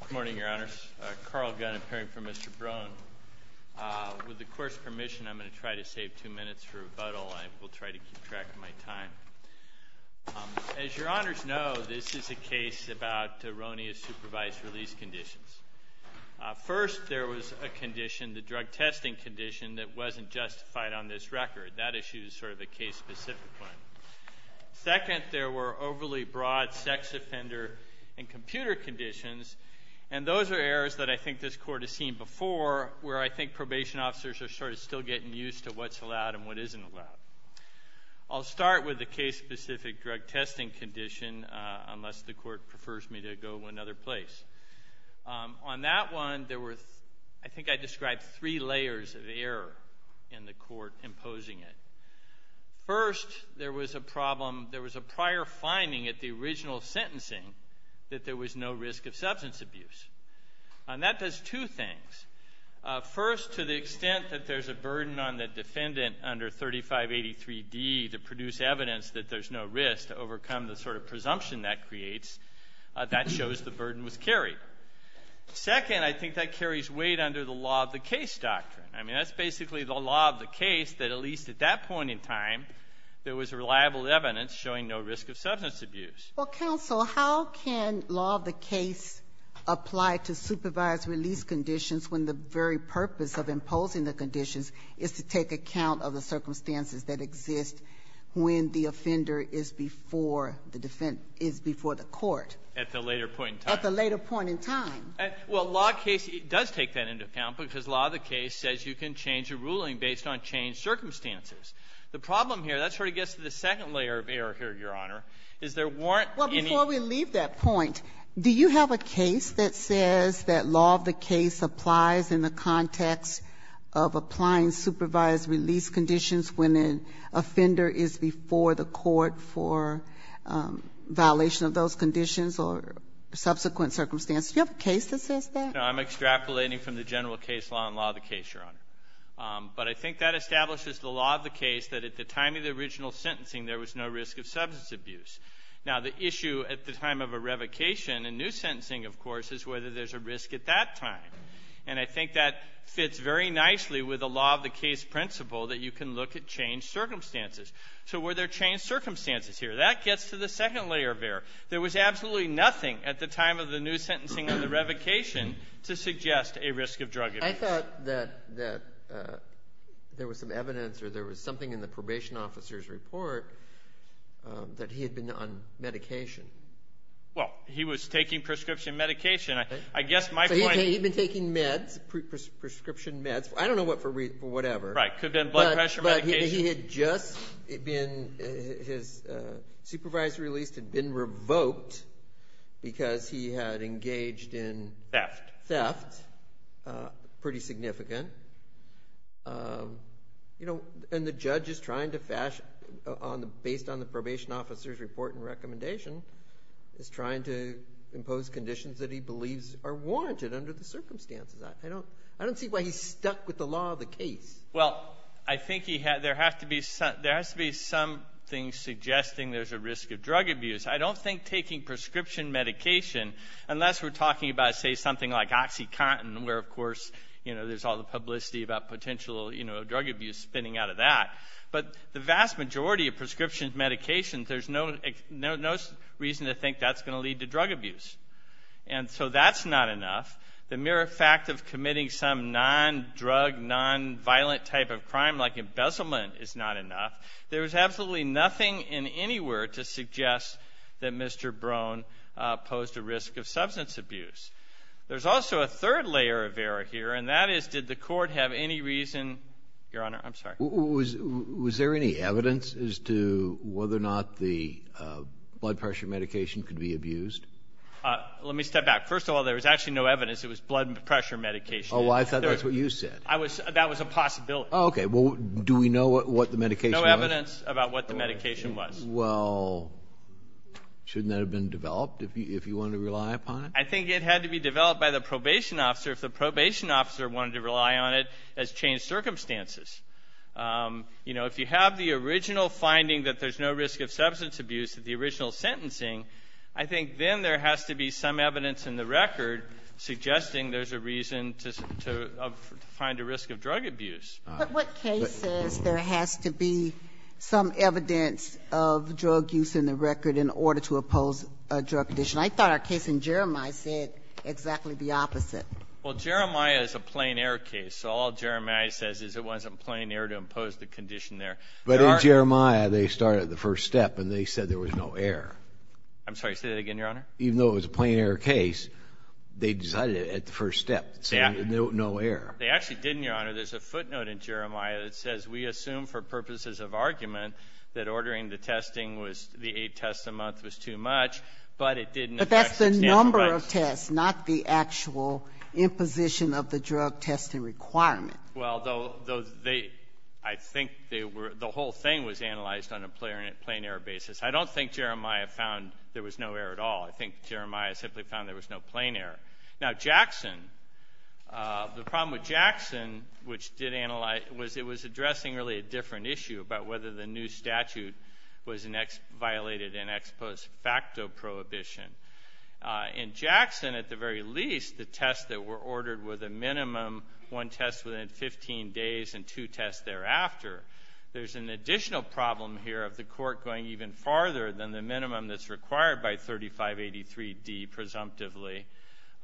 Good morning, Your Honors. Carl Gunn, appearing for Mr. Brohn. With the Court's permission, I'm going to try to save two minutes for rebuttal. I will try to keep track of my time. As Your Honors know, this is a case about erroneous supervised release conditions. First, there was a condition, the drug testing condition, that wasn't justified on this record. That issue is sort of a case-specific one. Second, there were overly broad sex offender and computer conditions, and those are errors that I think this Court has seen before, where I think probation officers are sort of still getting used to what's allowed and what isn't allowed. I'll start with the case-specific drug testing condition, unless the Court prefers me to go to another place. On that one, there were, I think I described three layers of error in the Court imposing it. First, there was a problem, there was a prior finding at the original sentencing that there was no risk of substance abuse. And that does two things. First, to the extent that there's a burden on the defendant under 3583D to produce evidence that there's no risk, to overcome the sort of presumption that creates, that shows the burden was carried. Second, I think that carries weight under the law of the case doctrine. I mean, that's basically the law of the case, that at least at that point in time, there was reliable evidence showing no risk of substance abuse. Well, counsel, how can law of the case apply to supervised release conditions when the very purpose of imposing the conditions is to take account of the circumstances that exist when the offender is before the court? At the later point in time. At the later point in time. Well, law of the case does take that into account, because law of the case says you can change a ruling based on changed circumstances. The problem here, that sort of gets to the second layer of error here, Your Honor, is there weren't any ---- Well, before we leave that point, do you have a case that says that law of the case applies in the context of applying supervised release conditions when an offender is before the court for violation of those conditions or subsequent circumstances? Do you have a case that says that? No. I'm extrapolating from the general case law in law of the case, Your Honor. But I think that establishes the law of the case that at the time of the original sentencing, there was no risk of substance abuse. Now, the issue at the time of a revocation in new sentencing, of course, is whether there's a risk at that time. And I think that fits very nicely with the law of the case principle that you can look at changed circumstances. So were there changed circumstances here? That gets to the second layer of error. There was absolutely nothing at the time of the new sentencing or the revocation to suggest a risk of drug abuse. I thought that there was some evidence or there was something in the probation officer's report that he had been on medication. Well, he was taking prescription medication. I guess my point is ---- He'd been taking meds, prescription meds. I don't know what for whatever. Right. Could have been blood pressure medication. He had just been, his supervisory release had been revoked because he had engaged in theft. Theft. Pretty significant. And the judge is trying to fashion, based on the probation officer's report and recommendation, is trying to impose conditions that he believes are warranted under the circumstances. I don't see why he's stuck with the law of the case. Well, I think there has to be something suggesting there's a risk of drug abuse. I don't think taking prescription medication, unless we're talking about, say, something like OxyContin, where, of course, there's all the publicity about potential drug abuse spinning out of that. But the vast majority of prescription medications, there's no reason to think that's going to lead to drug abuse. And so that's not enough. The mere fact of committing some non-drug, non-violent type of crime, like embezzlement, is not enough. There's absolutely nothing in any word to suggest that Mr. Brone posed a risk of substance abuse. There's also a third layer of error here, and that is, did the court have any reason — your honor, I'm sorry. Was there any evidence as to whether or not the blood pressure medication could be abused? Let me step back. First of all, there was actually no evidence. It was blood pressure medication. Oh, I thought that's what you said. I was — that was a possibility. Oh, okay. Well, do we know what the medication was? No evidence about what the medication was. Well, shouldn't that have been developed if you wanted to rely upon it? I think it had to be developed by the probation officer if the probation officer wanted to rely on it as changed circumstances. You know, if you have the original finding that there's no risk of substance abuse, the record suggesting there's a reason to find a risk of drug abuse. But what case says there has to be some evidence of drug use in the record in order to oppose a drug condition? I thought our case in Jeremiah said exactly the opposite. Well, Jeremiah is a plain-error case, so all Jeremiah says is it wasn't plain-error to impose the condition there. But in Jeremiah, they started the first step, and they said there was no error. I'm sorry. Say that again, Your Honor. Even though it was a plain-error case, they decided it at the first step, saying there was no error. They actually didn't, Your Honor. There's a footnote in Jeremiah that says we assume for purposes of argument that ordering the testing was the eight tests a month was too much, but it didn't affect the sample size. But that's the number of tests, not the actual imposition of the drug testing requirement. Well, I think the whole thing was analyzed on a plain-error basis. I don't think Jeremiah found there was no error at all. I think Jeremiah simply found there was no plain error. Now, Jackson, the problem with Jackson, which did analyze, was it was addressing really a different issue about whether the new statute violated an ex post facto prohibition. In Jackson, at the very least, the tests that were ordered were the minimum, one test within 15 days and two tests thereafter. There's an additional problem here of the court going even farther than the minimum that's required by 3583D, presumptively,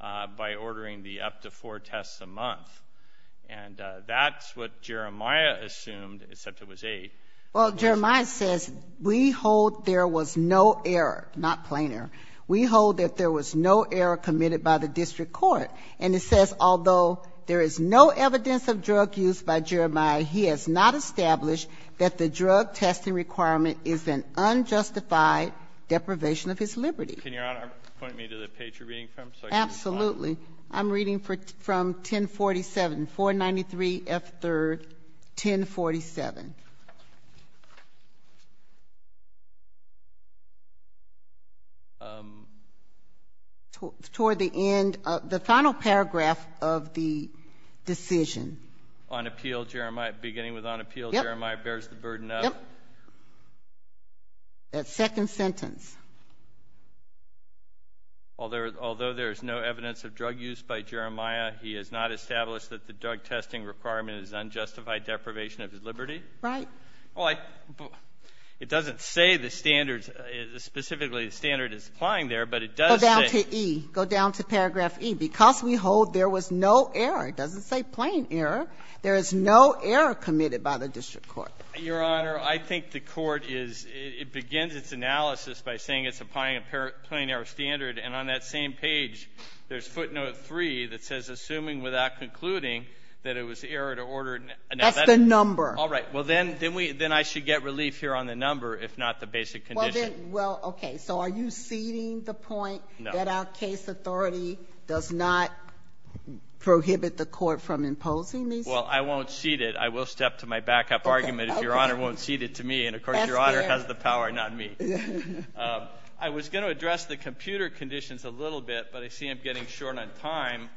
by ordering the up to four tests a month. And that's what Jeremiah assumed, except it was eight. Well, Jeremiah says we hold there was no error, not plain error. We hold that there was no error committed by the district court. And it says, although there is no evidence of drug use by Jeremiah, he has not deprivation of his liberty. Can Your Honor point me to the page you're reading from so I can respond? Absolutely. I'm reading from 1047, 493F3rd, 1047. Toward the end of the final paragraph of the decision. On appeal, Jeremiah, beginning with on appeal, Jeremiah bears the burden of? Yep. That second sentence. Although there is no evidence of drug use by Jeremiah, he has not established that the drug testing requirement is unjustified deprivation of his liberty? Right. Well, I don't know. It doesn't say the standards, specifically the standard is applying there, but it does say go down to paragraph E. Because we hold there was no error, it doesn't say plain error, there is no error committed by the district court. Your Honor, I think the court is, it begins its analysis by saying it's applying a plain error standard, and on that same page, there's footnote 3 that says assuming without concluding that it was error to order. That's the number. All right. Well, then I should get relief here on the number, if not the basic condition. Well, okay. So are you ceding the point that our case authority does not prohibit the court from imposing these? Well, I won't cede it. I will step to my backup argument if Your Honor won't cede it to me. And of course, Your Honor has the power, not me. I was going to address the computer conditions a little bit, but I see I'm getting short on time.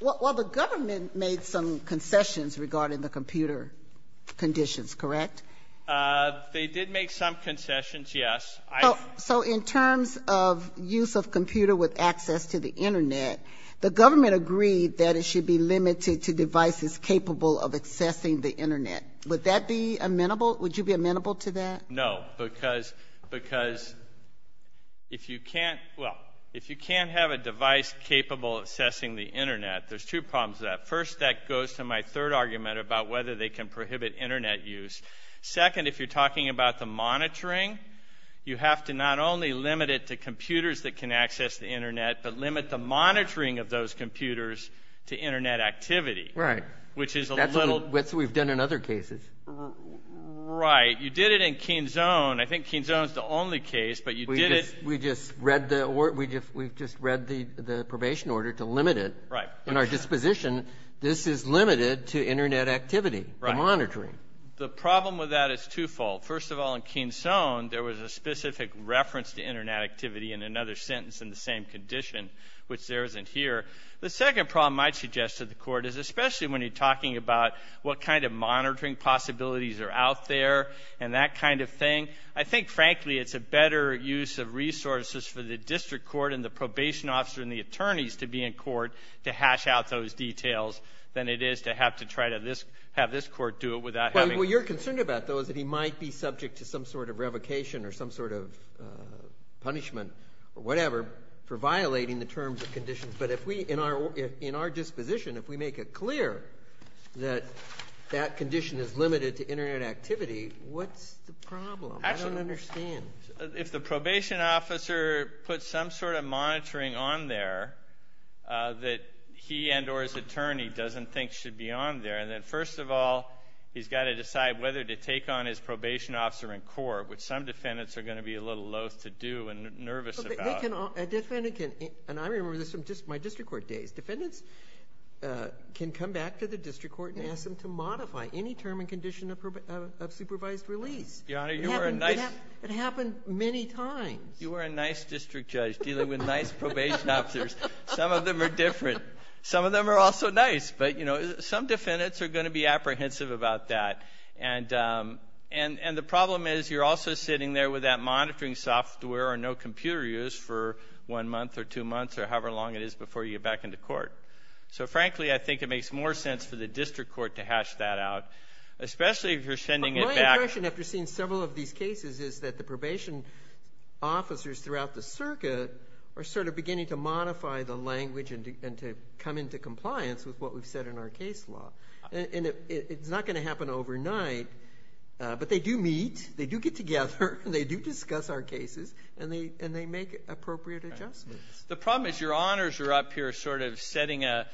Well, the government made some concessions regarding the computer conditions, correct? They did make some concessions, yes. So in terms of use of computer with access to the internet, the government agreed that it should be limited to devices capable of accessing the internet. Would that be amenable? Would you be amenable to that? No, because if you can't have a device capable of assessing the internet, there's two problems with that. First, that goes to my third argument about whether they can prohibit internet use. Second, if you're talking about the monitoring, you have to not only limit it to internet activity, which is a little... That's what we've done in other cases. Right. You did it in Keynes Zone. I think Keynes Zone is the only case, but you did it... We just read the probation order to limit it. Right. In our disposition, this is limited to internet activity, the monitoring. The problem with that is twofold. First of all, in Keynes Zone, there was a specific reference to internet activity in another sentence in the same condition, which there isn't here. The second problem I'd suggest to the court is especially when you're talking about what kind of monitoring possibilities are out there and that kind of thing. I think, frankly, it's a better use of resources for the district court and the probation officer and the attorneys to be in court to hash out those details than it is to have to try to have this court do it without having... Well, you're concerned about those that he might be subject to some sort of revocation or some sort of punishment or whatever for violating the terms of the probation order. In our disposition, if we make it clear that that condition is limited to internet activity, what's the problem? I don't understand. If the probation officer puts some sort of monitoring on there that he and or his attorney doesn't think should be on there, then first of all, he's got to decide whether to take on his probation officer in court, which some defendants are going to be a little loath to do and nervous about. A defendant can... And I remember this from just my district court days. Defendants can come back to the district court and ask them to modify any term and condition of supervised release. Your Honor, you are a nice... It happened many times. You are a nice district judge dealing with nice probation officers. Some of them are different. Some of them are also nice, but some defendants are going to be apprehensive about that. And the problem is you're also sitting there with that monitoring software or no one month or two months or however long it is before you get back into court. So frankly, I think it makes more sense for the district court to hash that out, especially if you're sending it back... My impression after seeing several of these cases is that the probation officers throughout the circuit are sort of beginning to modify the language and to come into compliance with what we've said in our case law. And it's not going to happen overnight, but they do meet, they do get together, they do discuss our cases and they make appropriate adjustments. The problem is your honors are up here sort of setting a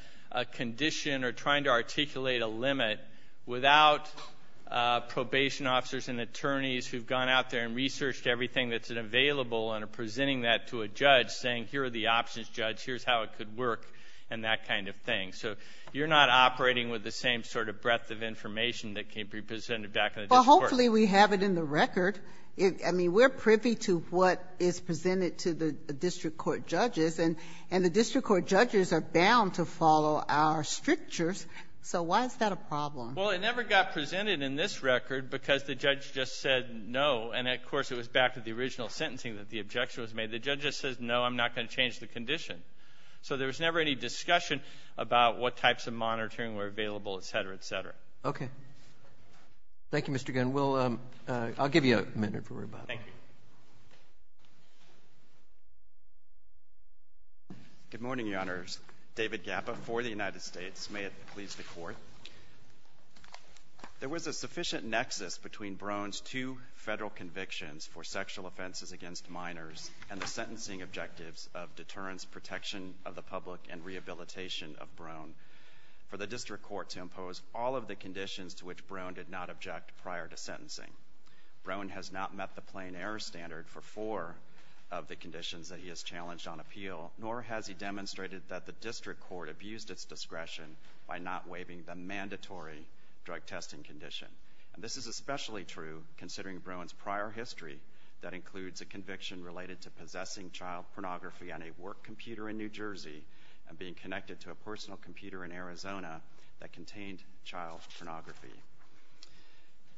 condition or trying to articulate a limit without probation officers and attorneys who've gone out there and researched everything that's available and are presenting that to a judge saying, here are the options, judge, here's how it could work and that kind of thing. So you're not operating with the same sort of breadth of information that can be presented back in the district court. Well, hopefully we have it in the record. I mean, we're privy to what is presented to the district court judges, and the district court judges are bound to follow our strictures. So why is that a problem? Well, it never got presented in this record because the judge just said no. And of course, it was back to the original sentencing that the objection was made. The judge just says, no, I'm not going to change the condition. So there was never any discussion about what types of monitoring were available, et cetera, et cetera. Okay. Thank you, Mr. Gunn. We'll, I'll give you a minute, don't worry about it. Thank you. Good morning, Your Honors. David Gappa for the United States. May it please the Court. There was a sufficient nexus between Brown's two federal convictions for sexual offenses against minors and the sentencing objectives of deterrence, protection of the public, and rehabilitation of Brown for the district court to impose all of the conditions to which Brown did not object prior to sentencing. Brown has not met the plain error standard for four of the conditions that he has challenged on appeal, nor has he demonstrated that the district court abused its discretion by not waiving the mandatory drug testing condition, and this is especially true considering Brown's prior history that includes a conviction related to possessing child pornography on a work computer in New Jersey, and being connected to a personal computer in Arizona that contained child pornography.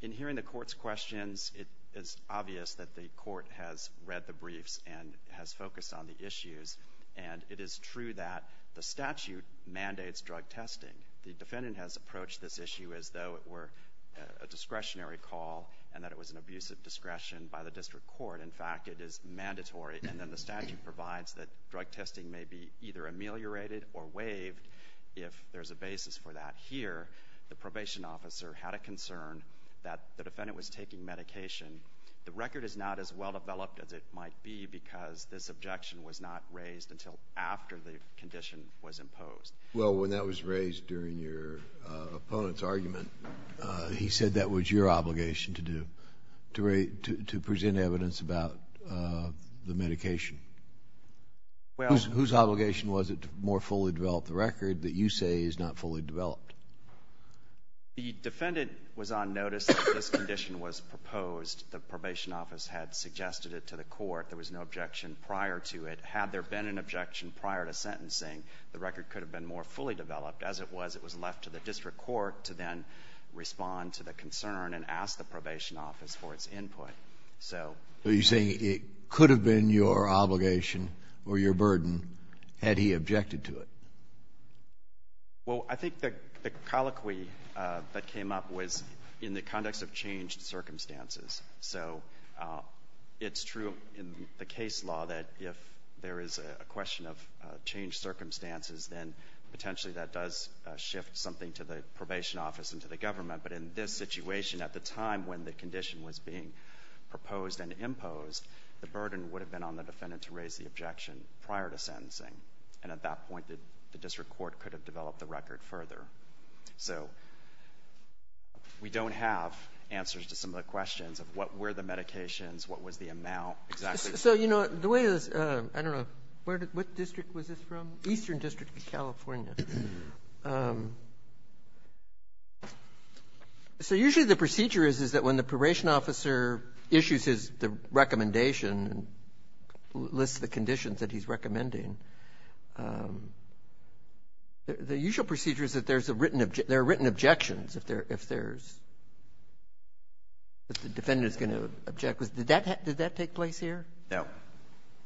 In hearing the court's questions, it is obvious that the court has read the briefs and has focused on the issues, and it is true that the statute mandates drug testing. The defendant has approached this issue as though it were a discretionary call, and that it was an abuse of discretion by the district court. In fact, it is mandatory, and then the statute provides that drug testing may be either ameliorated or waived if there's a basis for that. Here, the probation officer had a concern that the defendant was taking medication. The record is not as well developed as it might be because this objection was not raised until after the condition was imposed. Well, when that was raised during your opponent's argument, he said that was your obligation to do, to present evidence about the medication. Well. Whose obligation was it to more fully develop the record that you say is not fully developed? The defendant was on notice that this condition was proposed. The probation office had suggested it to the court. There was no objection prior to it. Had there been an objection prior to sentencing, the record could have been more fully developed. As it was, it was left to the district court to then respond to the concern and ask the probation office for its input. So. So you're saying it could have been your obligation or your burden had he objected to it? Well, I think the colloquy that came up was in the context of changed circumstances. So it's true in the case law that if there is a question of changed circumstances, then potentially that does shift something to the probation office and to the government. But in this situation, at the time when the condition was being proposed and imposed, the burden would have been on the defendant to raise the objection prior to sentencing. And at that point, the district court could have developed the record further. So we don't have answers to some of the questions of what were the medications, what was the amount, exactly. So, you know, the way this, I don't know, where did, what district was this from? Eastern District of California. So usually the procedure is, is that when the probation officer issues his, the recommendation, lists the conditions that he's recommending, the usual procedure is that there's a written objection, there are written objections if there, if there's, if the defendant is going to object. Did that, did that take place here? No.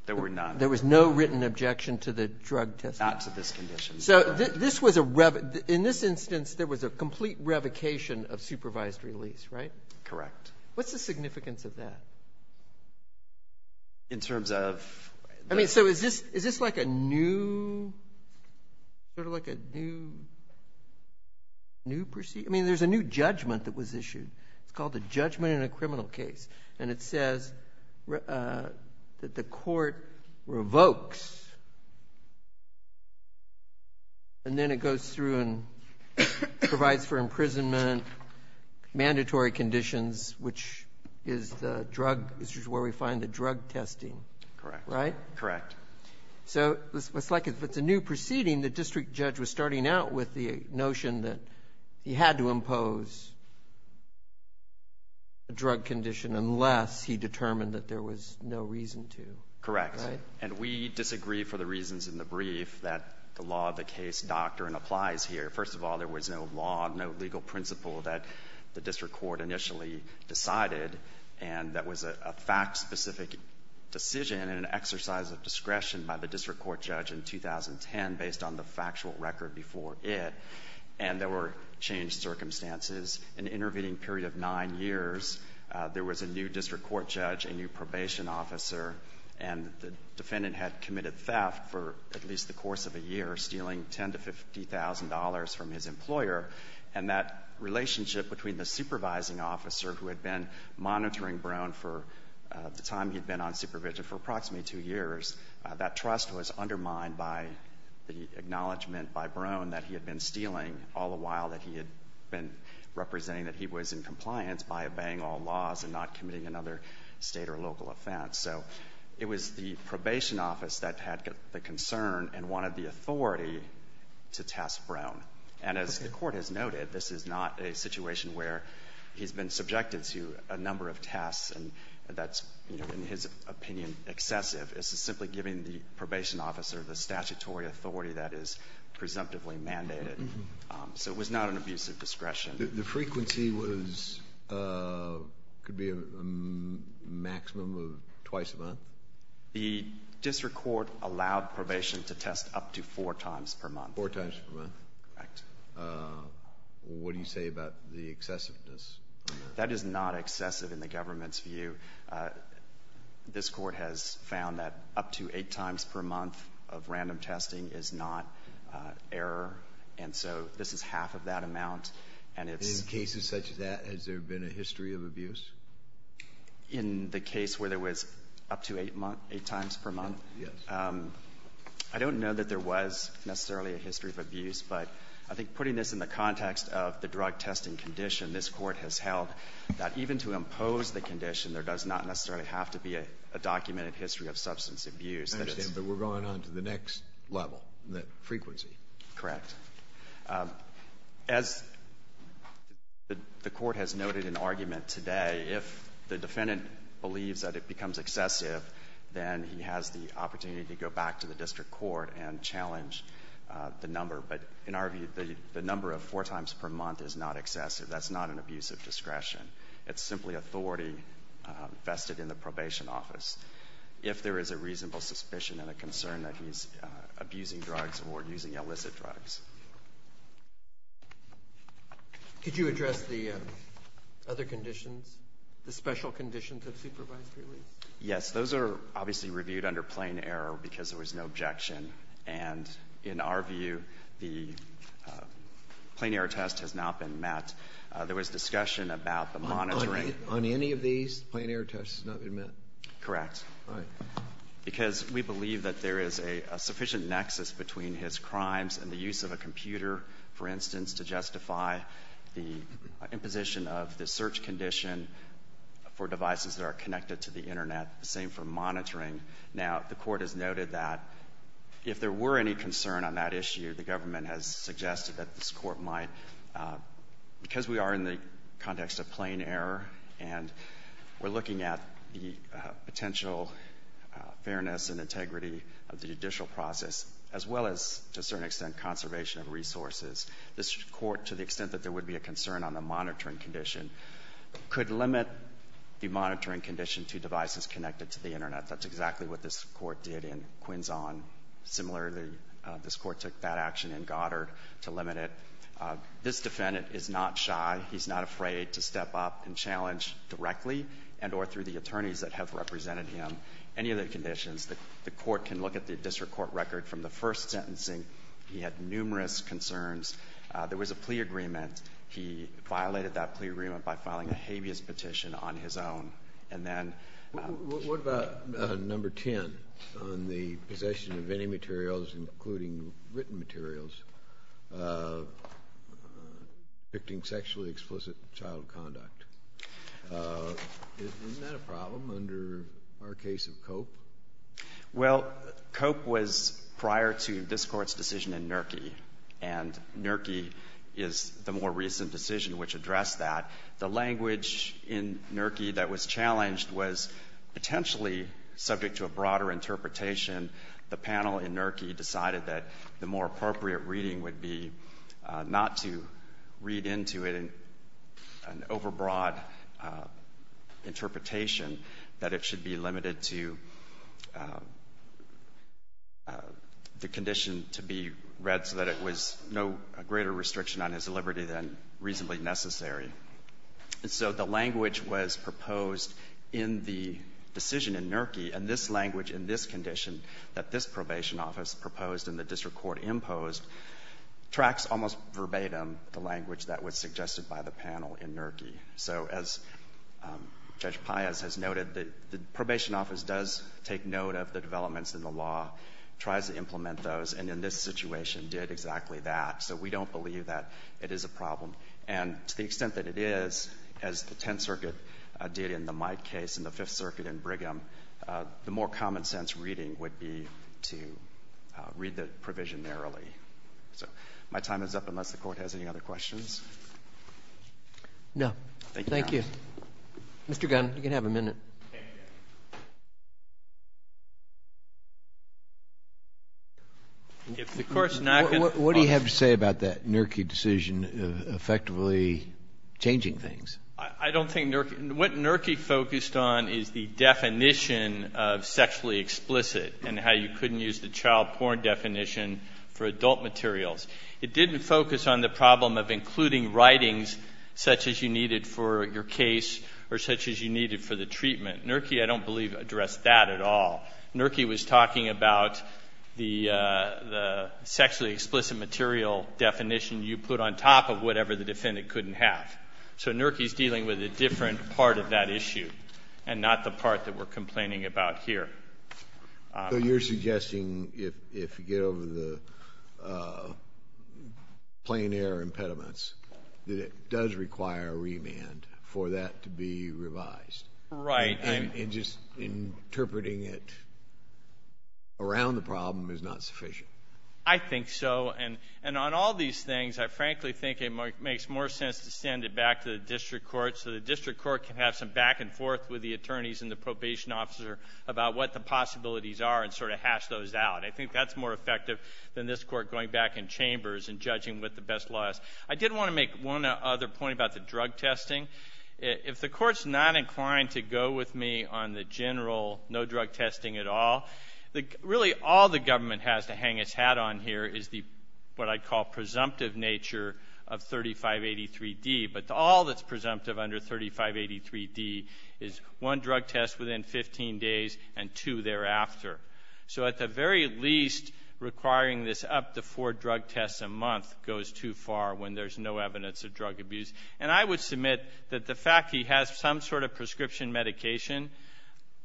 There were not. There was not a written objection to the drug test. Not to this condition. So this was a rev, in this instance, there was a complete revocation of supervised release, right? Correct. What's the significance of that? In terms of? I mean, so is this, is this like a new, sort of like a new, new procedure, I mean, there's a new judgment that was issued, it's called the judgment in a criminal case. And it says that the court revokes, and then it goes through and provides for imprisonment, mandatory conditions, which is the drug, this is where we find the drug testing. Correct. Right? Correct. So it's like if it's a new proceeding, the district judge was starting out with the notion that he had to impose a drug condition unless he determined that there was no reason to. Correct. Right? And we disagree for the reasons in the brief that the law of the case doctrine applies here. First of all, there was no law, no legal principle that the district court initially decided, and that was a fact-specific decision and an exercise of discretion by the district court judge in 2010 based on the factual record before it. And there were changed circumstances. In the intervening period of nine years, there was a new district court judge, a new probation officer, and the defendant had committed theft for at least the course of a year, stealing $10,000 to $50,000 from his employer. And that relationship between the supervising officer who had been monitoring Brown for the time he'd been on supervision for approximately two years, that trust was undermined by the acknowledgement by Brown that he had been stealing all the while that he had been representing that he was in compliance by obeying all laws and not committing another state or local offense. So it was the probation office that had the concern and wanted the authority to test Brown. And as the court has noted, this is not a situation where he's been subjected to a number of tests and that's, you know, in his opinion, excessive. This is simply giving the probation officer the statutory authority that is presumptively mandated. So it was not an abuse of discretion. The frequency was, could be a maximum of twice a month? The district court allowed probation to test up to four times per month. Four times per month. Correct. What do you say about the excessiveness? That is not excessive in the government's view. This court has found that up to eight times per month of random testing is not error. And so this is half of that amount. And in cases such as that, has there been a history of abuse? In the case where there was up to eight times per month? Yes. I don't know that there was necessarily a history of abuse, but I think putting this in the context of the drug testing condition, this court has held that even to impose the condition, there does not necessarily have to be a documented history of substance abuse. I understand, but we're going on to the next level, the frequency. Correct. As the court has noted in argument today, if the defendant believes that it becomes excessive, then he has the opportunity to go back to the district court and challenge the number. But in our view, the number of four times per month is not excessive. That's not an abuse of discretion. It's simply authority vested in the probation office. If there is a reasonable suspicion and a concern that he's abusing drugs or using illicit drugs. Could you address the other conditions, the special conditions of supervised release? Yes. Those are obviously reviewed under plain error because there was no objection. And in our view, the plain error test has not been met. There was discussion about the monitoring. On any of these, the plain error test has not been met? Correct. All right. Because we believe that there is a sufficient nexus between his crimes and the use of a computer, for instance, to justify the imposition of the search condition for devices that are connected to the Internet, the same for monitoring. Now, the court has noted that if there were any concern on that issue, the government has suggested that this court might, because we are in the context of plain error and we're looking at the potential fairness and integrity of the judicial process, as well as, to a certain extent, conservation of resources, this court, to the extent that there would be a concern on the monitoring condition, could limit the monitoring condition to devices connected to the Internet. That's exactly what this court did in Quinzon. Similarly, this court took that action in Goddard to limit it. This defendant is not shy. He's not afraid to step up and challenge directly and or through the attorneys that have represented him any of the conditions. The court can look at the district court record from the first sentencing. He had numerous concerns. There was a plea agreement. He violated that plea agreement by filing a habeas petition on his own. And then — What about number 10 on the possession of any materials, including written materials, depicting sexually explicit child conduct? Isn't that a problem under our case of Cope? Well, Cope was prior to this Court's decision in Nerkey, and Nerkey is the more recent decision which addressed that. The language in Nerkey that was challenged was potentially subject to a broader interpretation. The panel in Nerkey decided that the more appropriate reading would be not to read into it an overbroad interpretation, that it should be limited to the condition to be read so that it was no greater restriction on his liberty than reasonably necessary. So the language was proposed in the decision in Nerkey, and this language in this condition that this probation office proposed and the district court imposed tracks almost verbatim the language that was suggested by the panel in Nerkey. So as Judge Paius has noted, the probation office does take note of the developments in the law, tries to implement those, and in this situation did exactly that. So we don't believe that it is a problem. And to the extent that it is, as the Tenth Circuit did in the Mike case and the Fifth Circuit in Brigham, the more common sense reading would be to read the provision narrowly. So my time is up, unless the Court has any other questions. Roberts. Thank you, Your Honor. Mr. Gunn, you can have a minute. If the Court's not going to follow up. I don't think Nerkey, what Nerkey focused on is the definition of sexually explicit and how you couldn't use the child porn definition for adult materials. It didn't focus on the problem of including writings such as you needed for your case or such as you needed for the treatment. Nerkey, I don't believe, addressed that at all. Nerkey was talking about the sexually explicit material definition you put on top of whatever the defendant couldn't have. So Nerkey's dealing with a different part of that issue and not the part that we're complaining about here. So you're suggesting if you get over the plain air impediments, that it does require a remand for that to be revised? Right. And just interpreting it around the problem is not sufficient? I think so. And on all these things, I frankly think it makes more sense to send it back to the District Court so the District Court can have some back and forth with the attorneys and the probation officer about what the possibilities are and sort of hash those out. I think that's more effective than this Court going back in chambers and judging what the best law is. I did want to make one other point about the drug testing. If the Court's not inclined to go with me on the general no drug testing at all, really all the government has to hang its hat on here is what I call the presumptive nature of 3583D. But all that's presumptive under 3583D is one drug test within 15 days and two thereafter. So at the very least, requiring this up to four drug tests a month goes too far when there's no evidence of drug abuse. And I would submit that the fact he has some sort of prescription medication,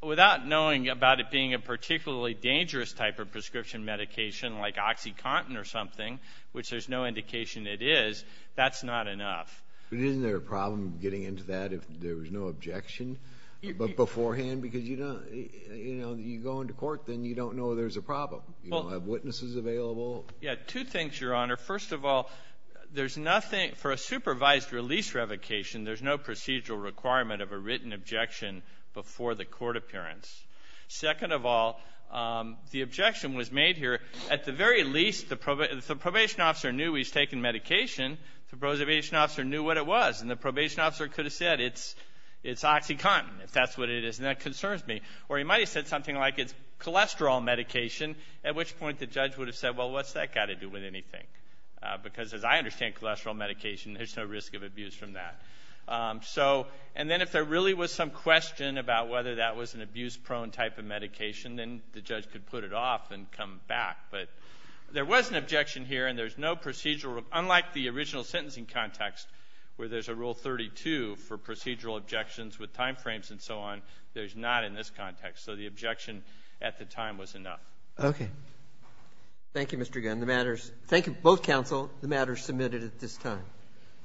without knowing about it being a particularly dangerous type of prescription medication like OxyContin or something, which there's no indication it is, that's not enough. But isn't there a problem getting into that if there was no objection beforehand? Because you go into court, then you don't know there's a problem. You don't have witnesses available. Yeah. Two things, Your Honor. First of all, there's nothing, for a supervised release revocation, there's no procedural requirement of a written objection before the court appearance. Second of all, the objection was made here, at the very least, if the probation officer knew he was taking medication, the probation officer knew what it was, and the probation officer could have said it's OxyContin, if that's what it is, and that concerns me. Or he might have said something like it's cholesterol medication, at which point the Because as I understand cholesterol medication, there's no risk of abuse from that. And then if there really was some question about whether that was an abuse-prone type of medication, then the judge could put it off and come back. But there was an objection here, and there's no procedural, unlike the original sentencing context where there's a Rule 32 for procedural objections with timeframes and so on, there's not in this context. So the objection at the time was enough. Okay. Thank you, Mr. Gunn. Thank you, both counsel. The matter is submitted at this time.